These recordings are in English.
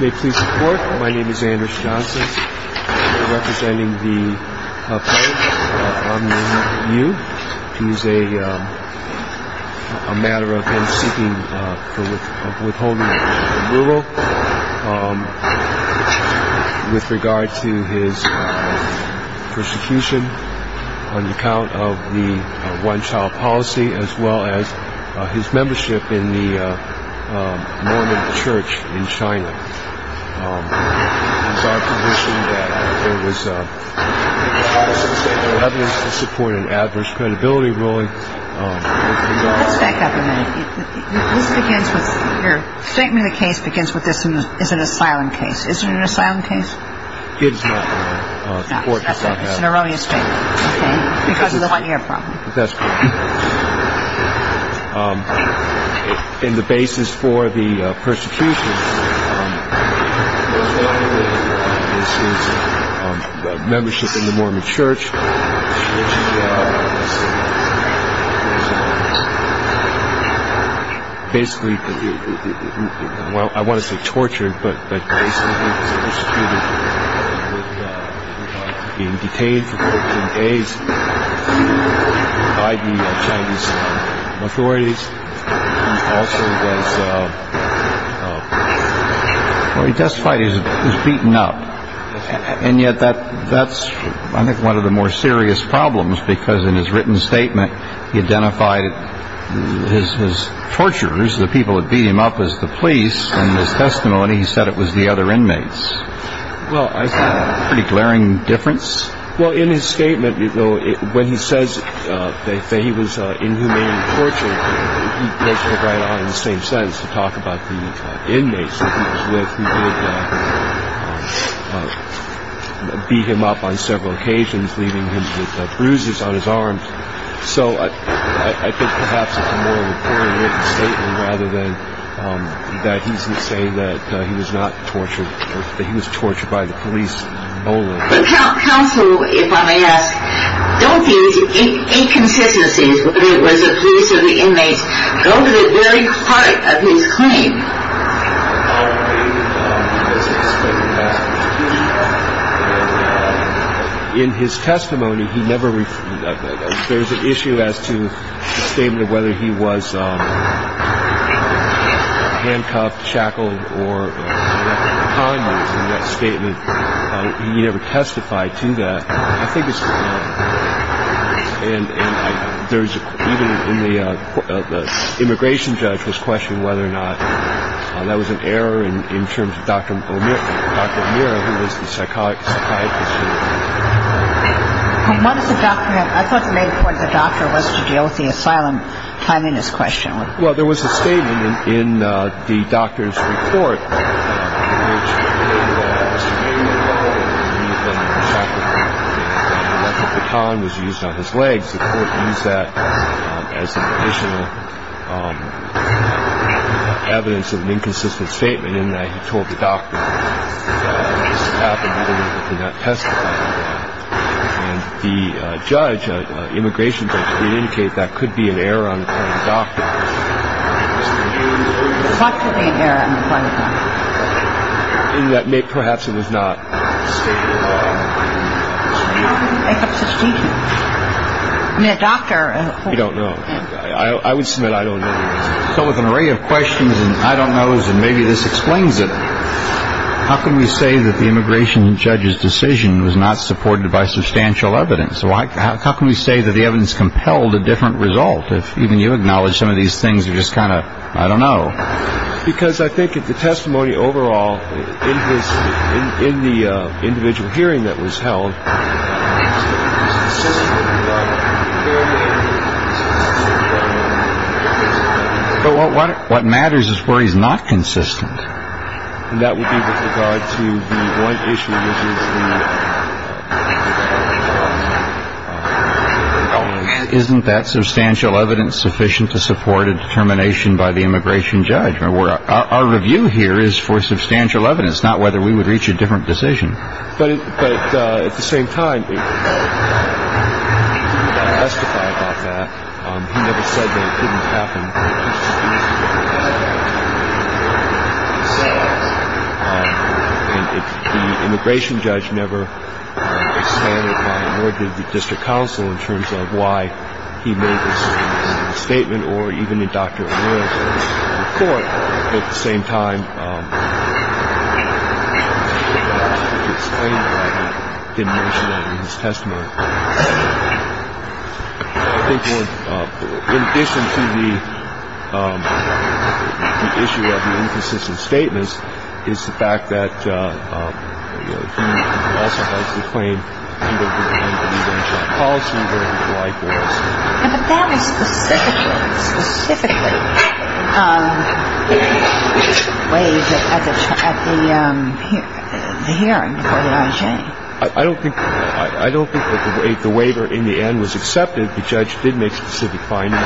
May it please the court, my name is Andrew Johnson. I'm representing the Pope, Aung San Suu Kyi. He's a matter of him seeking for withholding an amulet with regard to his persecution on account of the one-child policy as well as his membership in the Mormon church in China. He's on condition that there was evidence to support an adverse credibility ruling. Let's back up a minute. Your statement of the case begins with this is an asylum case. Is it an asylum case? No, it's an erroneous statement because of the one-year problem. That's correct. In the basis for the persecution, there was an amulet on the basis of membership in the Mormon church, which was basically, well, I want to say tortured, but basically was executed with being detained for 14 days by the Chinese authorities. He also was, well he testified he was beaten up. And yet that's, I think, one of the more serious problems because in his written statement, he identified his torturers, the people that beat him up, as the police. In his testimony, he said it was the other inmates. Well, I think. Pretty glaring difference? Well, in his statement, when he says that he was inhumanely tortured, he makes it right out of the same sentence to talk about the inmates that he was with who would beat him up on several occasions, leaving him with bruises on his arms. So I think perhaps it's a more recorded written statement rather than that he's saying that he was not tortured, that he was tortured by the police. The counsel, if I may ask, don't use inconsistencies when it was the police or the inmates. Go to the very heart of his claim. In his testimony, there's an issue as to the statement of whether he was handcuffed, shackled, or whatever the time was in that statement. He never testified to that. I think it's, and there's, even in the immigration judge was questioning whether or not that was an error in terms of Dr. O'Meara, who was the psychiatrist. And what is the document? I thought you made it clear what the doctor was to deal with the asylum time in his question. Well, there was a statement in the doctor's report. The time was used on his legs. The court used that as an additional evidence of an inconsistent statement in that he told the doctor. He did not testify to that. And the judge, immigration judge, did indicate that could be an error on the part of the doctor. What could be an error on the part of the doctor? In that perhaps it was not stated in the law. What's the statement? I mean, a doctor. We don't know. I would submit I don't know. So with an array of questions and I don't knows and maybe this explains it, how can we say that the immigration judge's decision was not supported by substantial evidence? How can we say that the evidence compelled a different result? If even you acknowledge some of these things are just kind of I don't know. Because I think if the testimony overall in the individual hearing that was held. But what matters is where he's not consistent. And that would be with regard to the one issue, which is the. Oh, isn't that substantial evidence sufficient to support a determination by the immigration judge? Our review here is for substantial evidence, not whether we would reach a different decision. But at the same time. I testify about that. He never said that it couldn't happen. The immigration judge never. Or did the district counsel in terms of why he made this statement or even a doctor? At the same time. His testimony. Thank you. In addition to the. The issue of the inconsistent statements is the fact that. Also has the claim. Policy. But that is specifically. Specifically. At the hearing. I don't think. I don't think that the waiver in the end was accepted. The judge did make specific findings.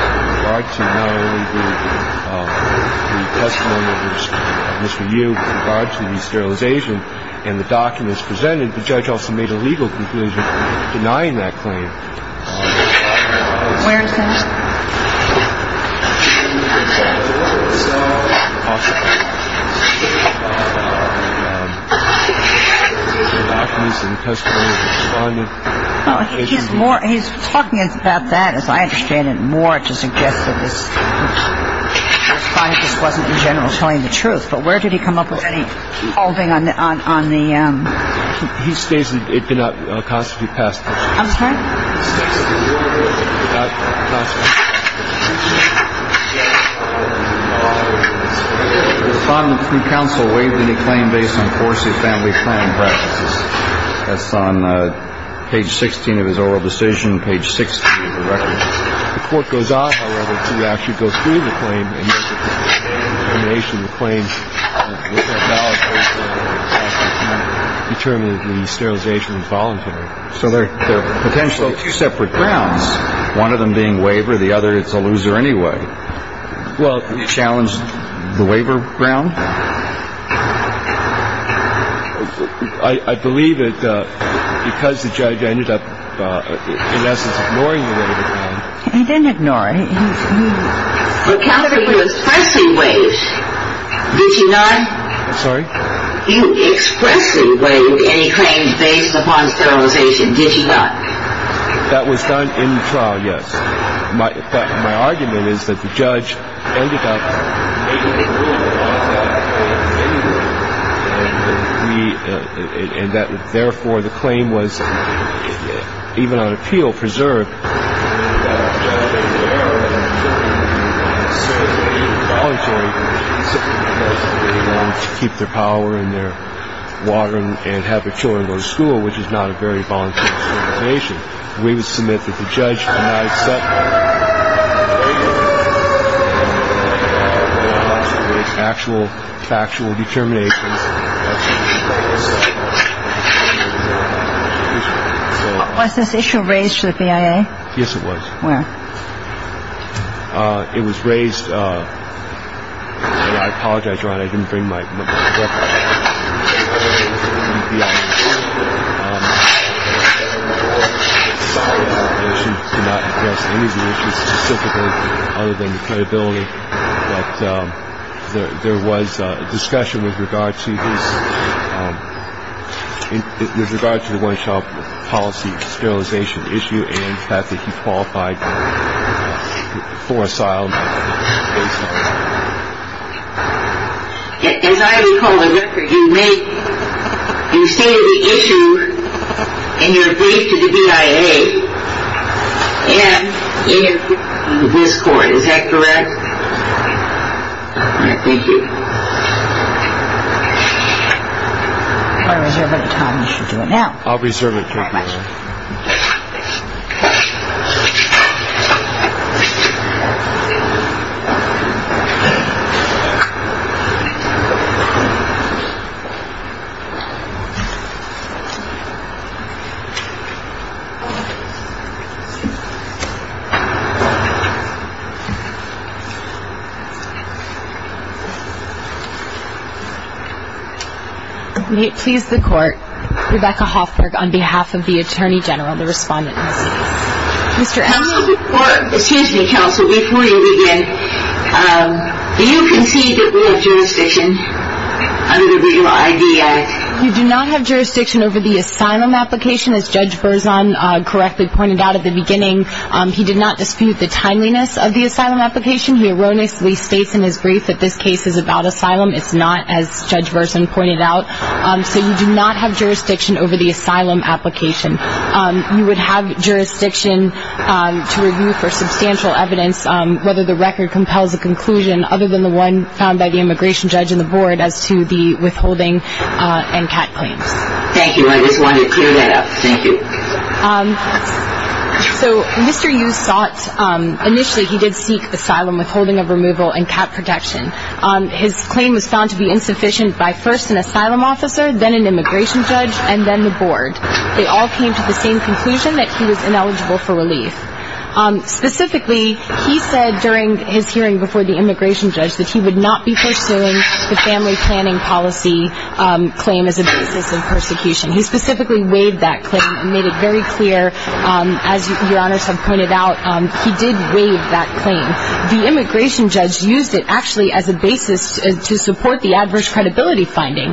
And the documents presented. The judge also made a legal conclusion. Denying that claim. He's more. He's talking about that. As I understand it. More to suggest. The truth. But where did he come up with any. Holding on. On the. He states. It did not constitute. Past. I'm sorry. That's. The council waived any claim based on course. His family. That's on page 16 of his oral decision. Page six. The court goes off. To actually go through. The claims. Determine the sterilization. Volunteer. So they're. Potentially. Separate grounds. One of them being waiver. The other. It's a loser anyway. Well. Challenge. The waiver. Ground. I. Believe it. Because the judge. Ended up. In essence. Ignoring. He didn't ignore. He. Look. After. He was. Pressing wage. Did he not. I'm sorry. You. Expressly. Waive. Any claim. Based upon. Sterilization. Did you not. That was done. In the trial. Yes. My. My argument is that the judge. Ended up. In. The. In that. Therefore. Preserved. To keep their power. In there. Watering. And. Having. To. To. To. To. To. To. To. To. To. To. To. To. Which is not a very volatile. In. The judgment judgment. I set. My. System. I was. What's this issue. Racial. IV. Yes, it was. Well. It was raised. By. Our daughter. Modern. Being my. Oh. This is. Definitely. But. There was. A discussion with regard. Policy is. You can. Have. Four so I'll. Have. The one shot. Policy skills. Adviation. Issue has that he qualified. The fourth. Our. Is. I recall. The record you make. You see the issue. In your brief to the D.I.A. And. In. This court. Is that correct. Thank you. I reserve it. Time to do it now. I'll reserve it. Thank you. Thank you. Please support. And then the board. They all came. To the same conclusion that he was ineligible. For relief. Specifically. He said. During his hearing before. The immigration judge that he would. Not be pursuing. Family planning policy. Claim is. A person he's specifically weighed that. We're made it very clear. As your honor. Some pointed out. He did we. That claim. The immigration judge used it. Actually as the basis. To support the adverse. Credibility finding.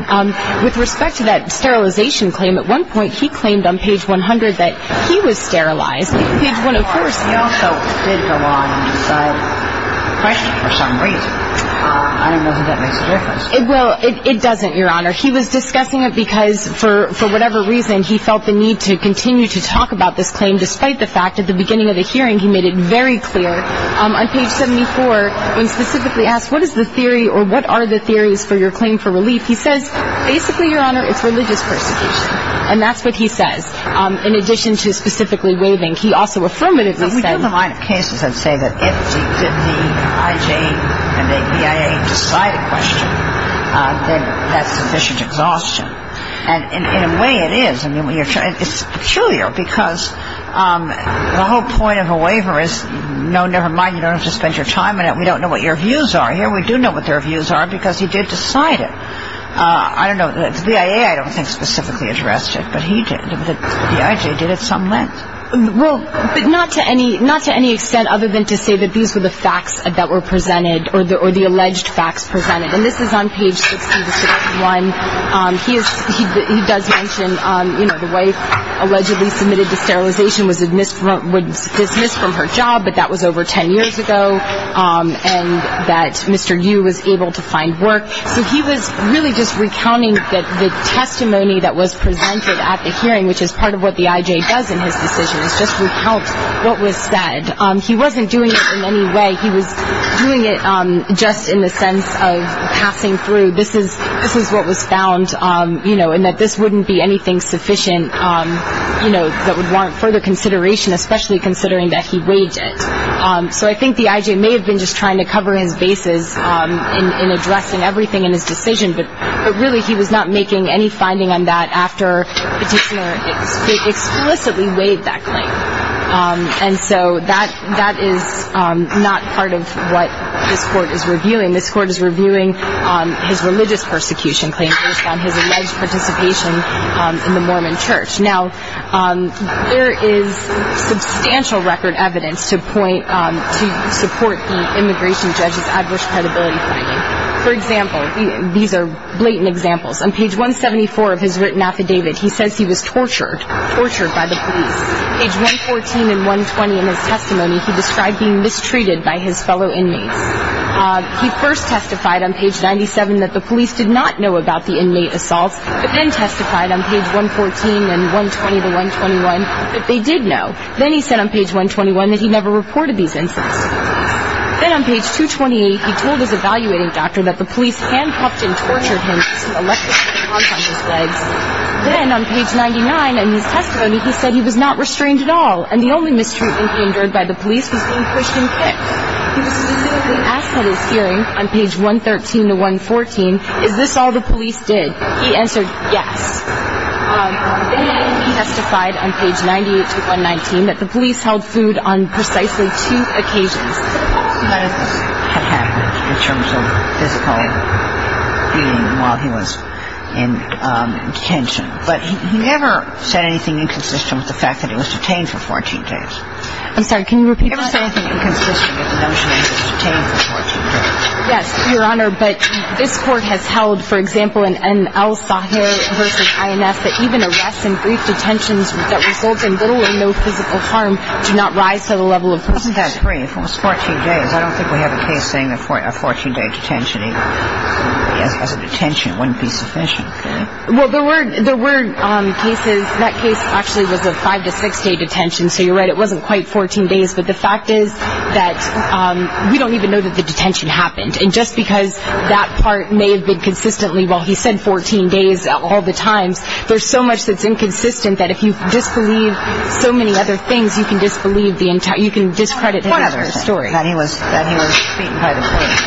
With respect to that. Sterilization claim. At one point. He claimed on page. 100 that. He was sterilized. When of course. He also. Did go on. For some reason. I don't know. If that makes a difference. It will. It doesn't. Your honor. He was discussing it. Because for. For whatever reason. He felt the need to continue. To talk about this claim. Despite the fact. At the beginning of the hearing. He made it very clear. On page 74. When specifically asked. What is the theory. Or what are the theories. For your claim for relief. He says. Basically your honor. It's religious persecution. And that's what he says. In addition. To specifically waiving. He also affirmatively said. We have a line of cases. That say. That if. The IJ. And the BIA. Decide a question. Then. That's sufficient exhaustion. And in a way. It is. I mean. It's peculiar. Because. The whole point of a waiver is. No never mind. You don't have to spend your time in it. We don't know. What your views are. Here we do know. What their views are. Because he did decide it. I don't know. The BIA. I don't think. Specifically addressed it. But he did. The IJ. Did at some length. Well. But not to any. Not to any extent. Other than to say. That these were the facts. That were presented. Or the alleged facts presented. And this is on page 61. He is. He does mention. You know. The wife. Allegedly submitted to sterilization. Was dismissed from her job. But that was over 10 years ago. And that Mr. Yu. Was able to find work. So he was. Really just recounting. That the testimony. That was presented. At the hearing. Which is part of what the IJ. Does in his decision. Is just recount. What was said. He wasn't doing it. In any way. He was. Doing it. Just in the sense. Of passing through. This is. This is what was found. You know. And that this wouldn't be anything sufficient. You know. That would warrant further consideration. Especially considering. That he weighed it. So I think the IJ. May have been just trying to cover his bases. In addressing everything. In his decision. But really. He was not making any finding on that. After. Petitioner. Explicitly. Weighed that claim. And so. That. That is. Not part of. What. This court is reviewing. This court is reviewing. His religious persecution. Claim. Based on his alleged participation. In the Mormon church. Now. There is. Substantial record evidence. To point. To support. The immigration judge's. Adverse credibility finding. For example. These are. Blatant examples. On page 174. Of his written affidavit. He says he was tortured. Tortured by the police. Page 114. And 120. In his testimony. He described being mistreated. By his fellow inmates. He first testified. On page 97. That the police did not know. About the inmate assault. But then testified. On page 114. And 120 to 121. Then he said on page 121. That he never reported these incidents. Then on page 228. He told his evaluating doctor. That the police. Can't. And. Then on page 999. In his testimony. He said he was not restrained at all. And the only mistreatment. Endured by the police. He was being pushed and kicked. Asked at his hearing. On page 113 to 114. Is this all the police did. He answered yes. Then he testified on page 98 to 119. That the police did not know. About the inmate assault. And then he testified. On page 124. Then he testified. On page 128. That the police did not know. About the inmate assault. And he asked us for a detention. Wouldn't be sufficient. Okay? Well, there were cases. That case actually was a five to six day detention. So you're right it wasn't quite 14 days. But the fact is that we don't even know that the detention happened. And just because that part may have been consistently. Well, he said 14 days. All the times. There's so much that's inconsistent. That if you disbelieve so many other things. You can disbelieve the entire. That he was beaten by the police.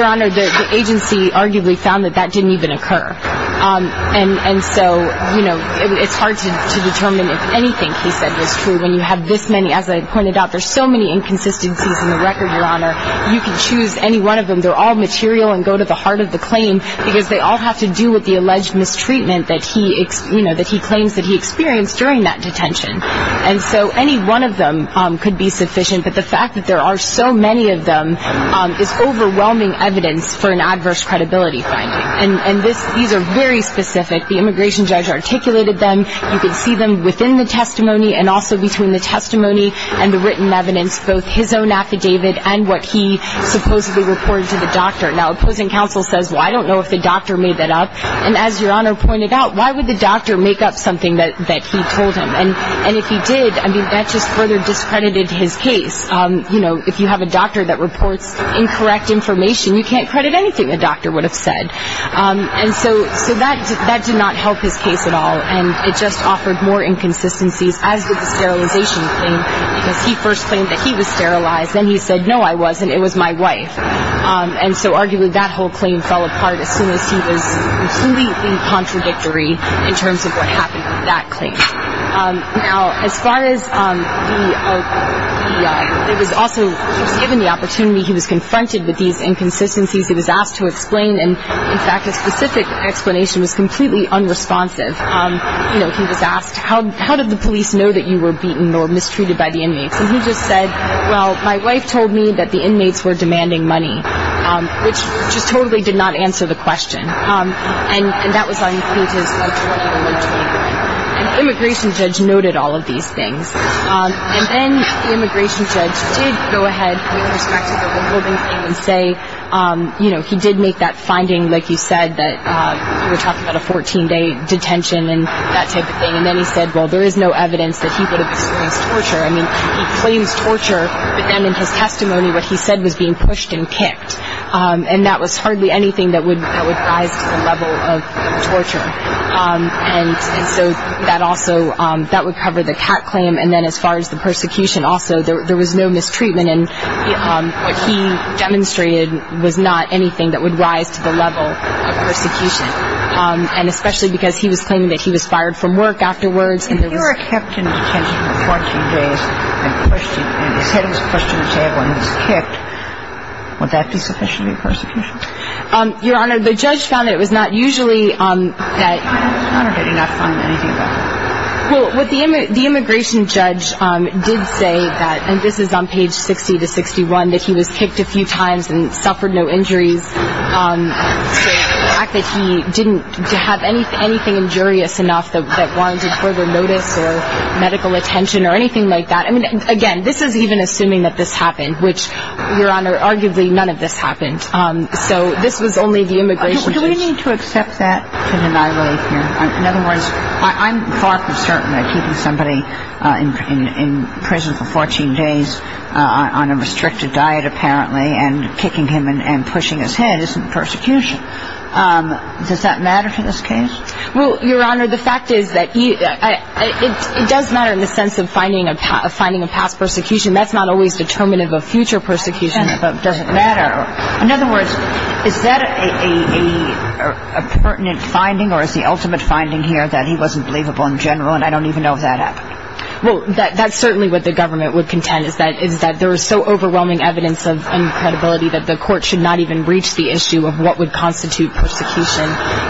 One of the other things. I just want to say. One of the other things. The agency arguably found that that didn't even occur. And so. You know. It's hard to determine if anything he said was true. When you have this many. As I pointed out. There's so many inconsistencies in the record. Your Honor. You can choose any one of them. They're all material. And go to the heart of the claim. Because they all have to do with the alleged mistreatment. That he. You know. That he claims that he experienced. During that detention. Is overwhelming evidence. And so. You know. It's hard to determine. If anything he said was true. When you have this many. As I pointed out. There's so many. You can't even. Find enough evidence for an adverse credibility finding. And. And this. These are very specific. The Immigration Judge articulated them. You can see them within the testimony. And also. Between the testimony. And the written evidence. Both his own affidavit. And what he supposedly reported to the doctor. Now. Opposing counsel says. Well I don't know if the doctor made that up. And as your Honor pointed out. Why would the doctor make up something that. That he told him. And. And if he did. I mean. That's just further discredited his case. You know. If you have a doctor that reports. Incorrect information. You can't credit anything the doctor would have said. And so. So that. That did not help his case at all. And. It just offered more inconsistencies. As did the sterilization claim. Because he first claimed that he was sterilized. Then he said. No I wasn't. It was my wife. And so. Arguably. That whole claim fell apart. As soon as he was. Completely contradictory. In terms of what happened with that claim. Now. As far as. The. The. It was also. He was given the opportunity. He was confronted. With these inconsistencies. He was asked to explain. And. In fact. A specific explanation. Was completely unresponsive. You know. He was asked. How. How did the police know. That you were beaten. Or mistreated by the inmates. And he just said. Well. My wife told me. That the inmates were demanding money. Which. And. And that was on. Impeachment. Immigration judge noted all of these things. And then. The immigration judge. Did go ahead. And. And say. You know. He did make that finding. Like you said. That. You were talking about. A 14 day. Detention. And. That type of thing. And then he said. Well. There is no evidence. That he would have experienced. Torture. I mean. He claims torture. But then in his testimony. What he said was being pushed. And kicked. And that was hardly anything. That would. That would rise to the level. Of torture. And. And so. That also. That would cover the cat claim. And then as far as the persecution. Also. There was no mistreatment. And. What he demonstrated. Was not anything. That would rise to the level. Of persecution. And especially. Because he was claiming. That he was fired from work. Afterwards. And there was. If you were kept in detention. For 14 days. And pushed. And his head was pushed. To the table. And he was kicked. Would that be sufficiently. Persecution? Your honor. The judge found. That it was not usually. That. Your honor. Did he not find. Anything about it? Well. What the immigration judge. Did say. That. And this is on page 60 to 61. That he was kicked a few times. And suffered no injuries. To the fact that he. Didn't have anything injurious enough. That warranted further notice. Or medical attention. Or anything like that. I mean. Again. This is even assuming. That this happened. Which. Your honor. Arguably. None of this happened. Do we need to accept that. In annihilation? In other words. I'm. Far from certain. I don't. I don't. I don't. Or would there be any. For holding back. Keeping somebody. In. Prison. For 14 days. On a restricted diet. Apparently. And kicking him. In. And pushing his head. Isn't. Persecution. Does that matter. To this case. Well. Your honor. The fact. Is that. It does. Matter. In the sense. Of finding a. Finding a past persecution. That's not always determinative. Of future persecution. But. Doesn't matter. In other words. Is that. A. A pertinent. Finding. Or is the ultimate. Finding here. That he wasn't. Believable. In general. And I don't even know. If that happened. Well. That. That's certainly. What the government. Would contend. Is that. Is that. There is so overwhelming. Evidence of. Incredibility. That the court. Should not even. Reach the issue. Of what would constitute. Persecution.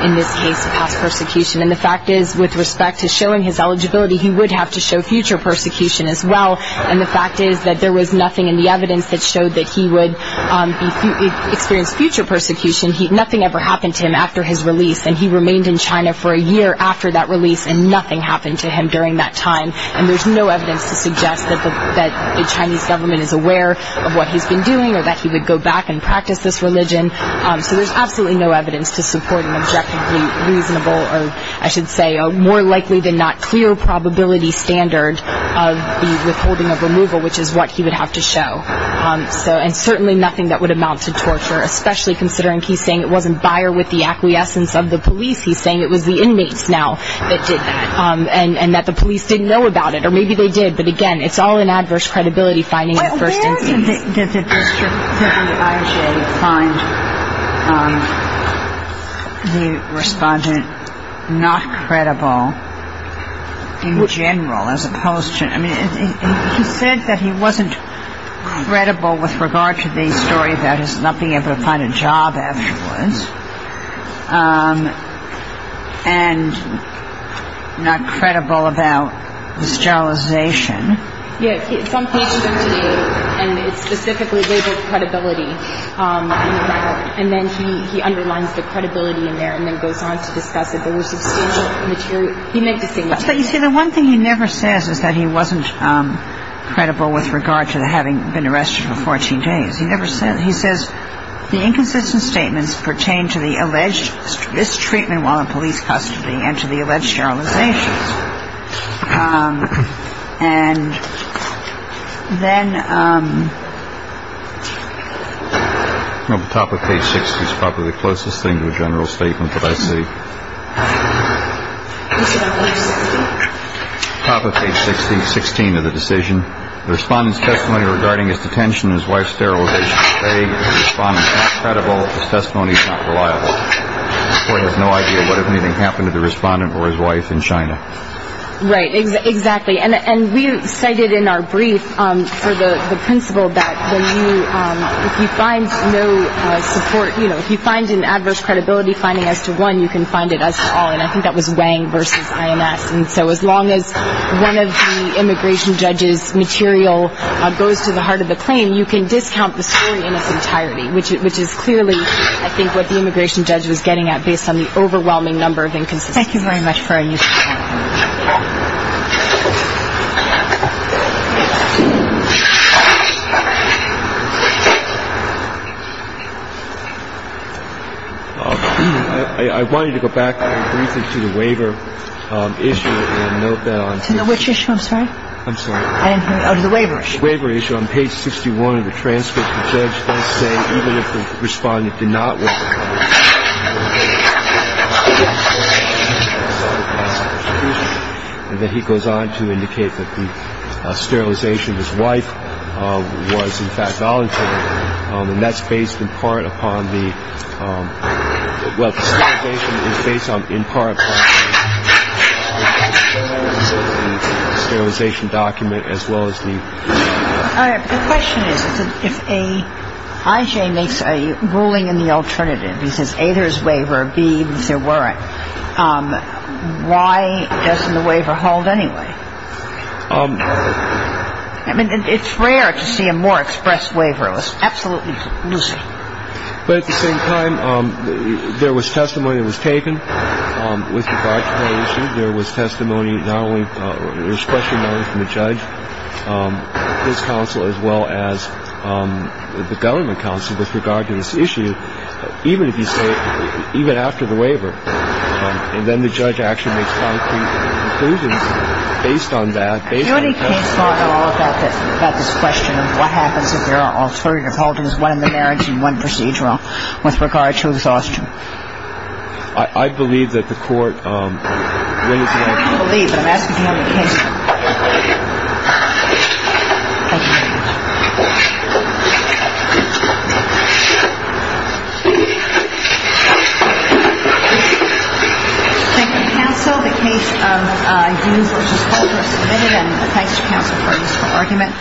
In this case. Past persecution. And the fact is. With respect. To showing his eligibility. He would have to show. Future persecution. As well. And the fact is. That there was nothing. In the evidence. That showed that he would. Be. Experienced future persecution. He. Nothing ever happened to him. After his release. And he remained in China. For a year. After that release. And nothing happened to him. During that time. And there's no evidence. To suggest. That the Chinese government. Is aware. Of what he's been doing. Or that he would go back. And practice this religion. So there's absolutely. No evidence. To support an objectively. Reasonable. Or. I should say. More likely than not. Clear probability standard. Of the withholding of removal. Which is what he would have to show. So. And certainly nothing. That would amount to torture. Especially considering. He's saying it wasn't Bayer. With the acquiescence. Of the police. He's saying it was the inmates. Now. That did that. And that the police didn't know about it. Or maybe they did. But again. It's all an adverse credibility finding. In the first instance. Well where did. The district. The IJ. Find. The. Respondent. Not credible. In general. As opposed to. I mean. He said that he wasn't. Credible. With regard to the story. About his not being able to find a job. Afterwards. And. Not credible. I know. That's not. It's not. It's not. It's not. It's not. It's not. It's not. It's not. It's not. It's not. It's not. It's not. It's not. It's not. It's not. It's not. And then he underlines the credibility in there and then goes on to discuss it. There were substantial. Material. He made the statement. You see the one thing he never says is that he wasn't. Credible. With regard to the having been arrested. For 14 days. He never said. He says. The inconsistent statements pertain to the alleged. Mistreatment. And. Then. Top of page. Six is probably the closest thing to a general statement. But I see. Top of page. Sixteen. Sixteen. Of the decision. The respondents testimony regarding his detention. His wife sterilization. It's not. It's not. It's not. It's not. It's not. It's not. It's not. It's not. It's not. It's not. It's not. It's not. It's not. And. Not. A great deal. Number of instances. Thank you very much. I wanted to go back briefly to the waiver issue and note that on page 61 of the transcript, the judge does say even if the respondent did not waive the claim, the claimant would not be held liable for a misdemeanor violation of the law. And then he goes on to indicate that the sterilization of his wife was in fact voluntary. And that's based in part upon the sterilization document as well as the. The question is, if a IJ makes a ruling in the alternative, he says A, there's waiver B, there weren't. Why doesn't the waiver hold anyway? I mean, it's rare to see a more express waiver. It was absolutely lucid. But at the same time, there was testimony that was taken with regard to that issue. There was testimony not only from the judge, his counsel, as well as the government counsel with regard to this issue. Even if you say even after the waiver and then the judge actually makes concrete conclusions based on that. Based on this question of what happens if there are alternative holdings, one in the marriage and one procedural with regard to exhaustion. I believe that the court. Thank you, counsel. The case of Dunes v. Culver is submitted. And thanks to counsel for a useful argument.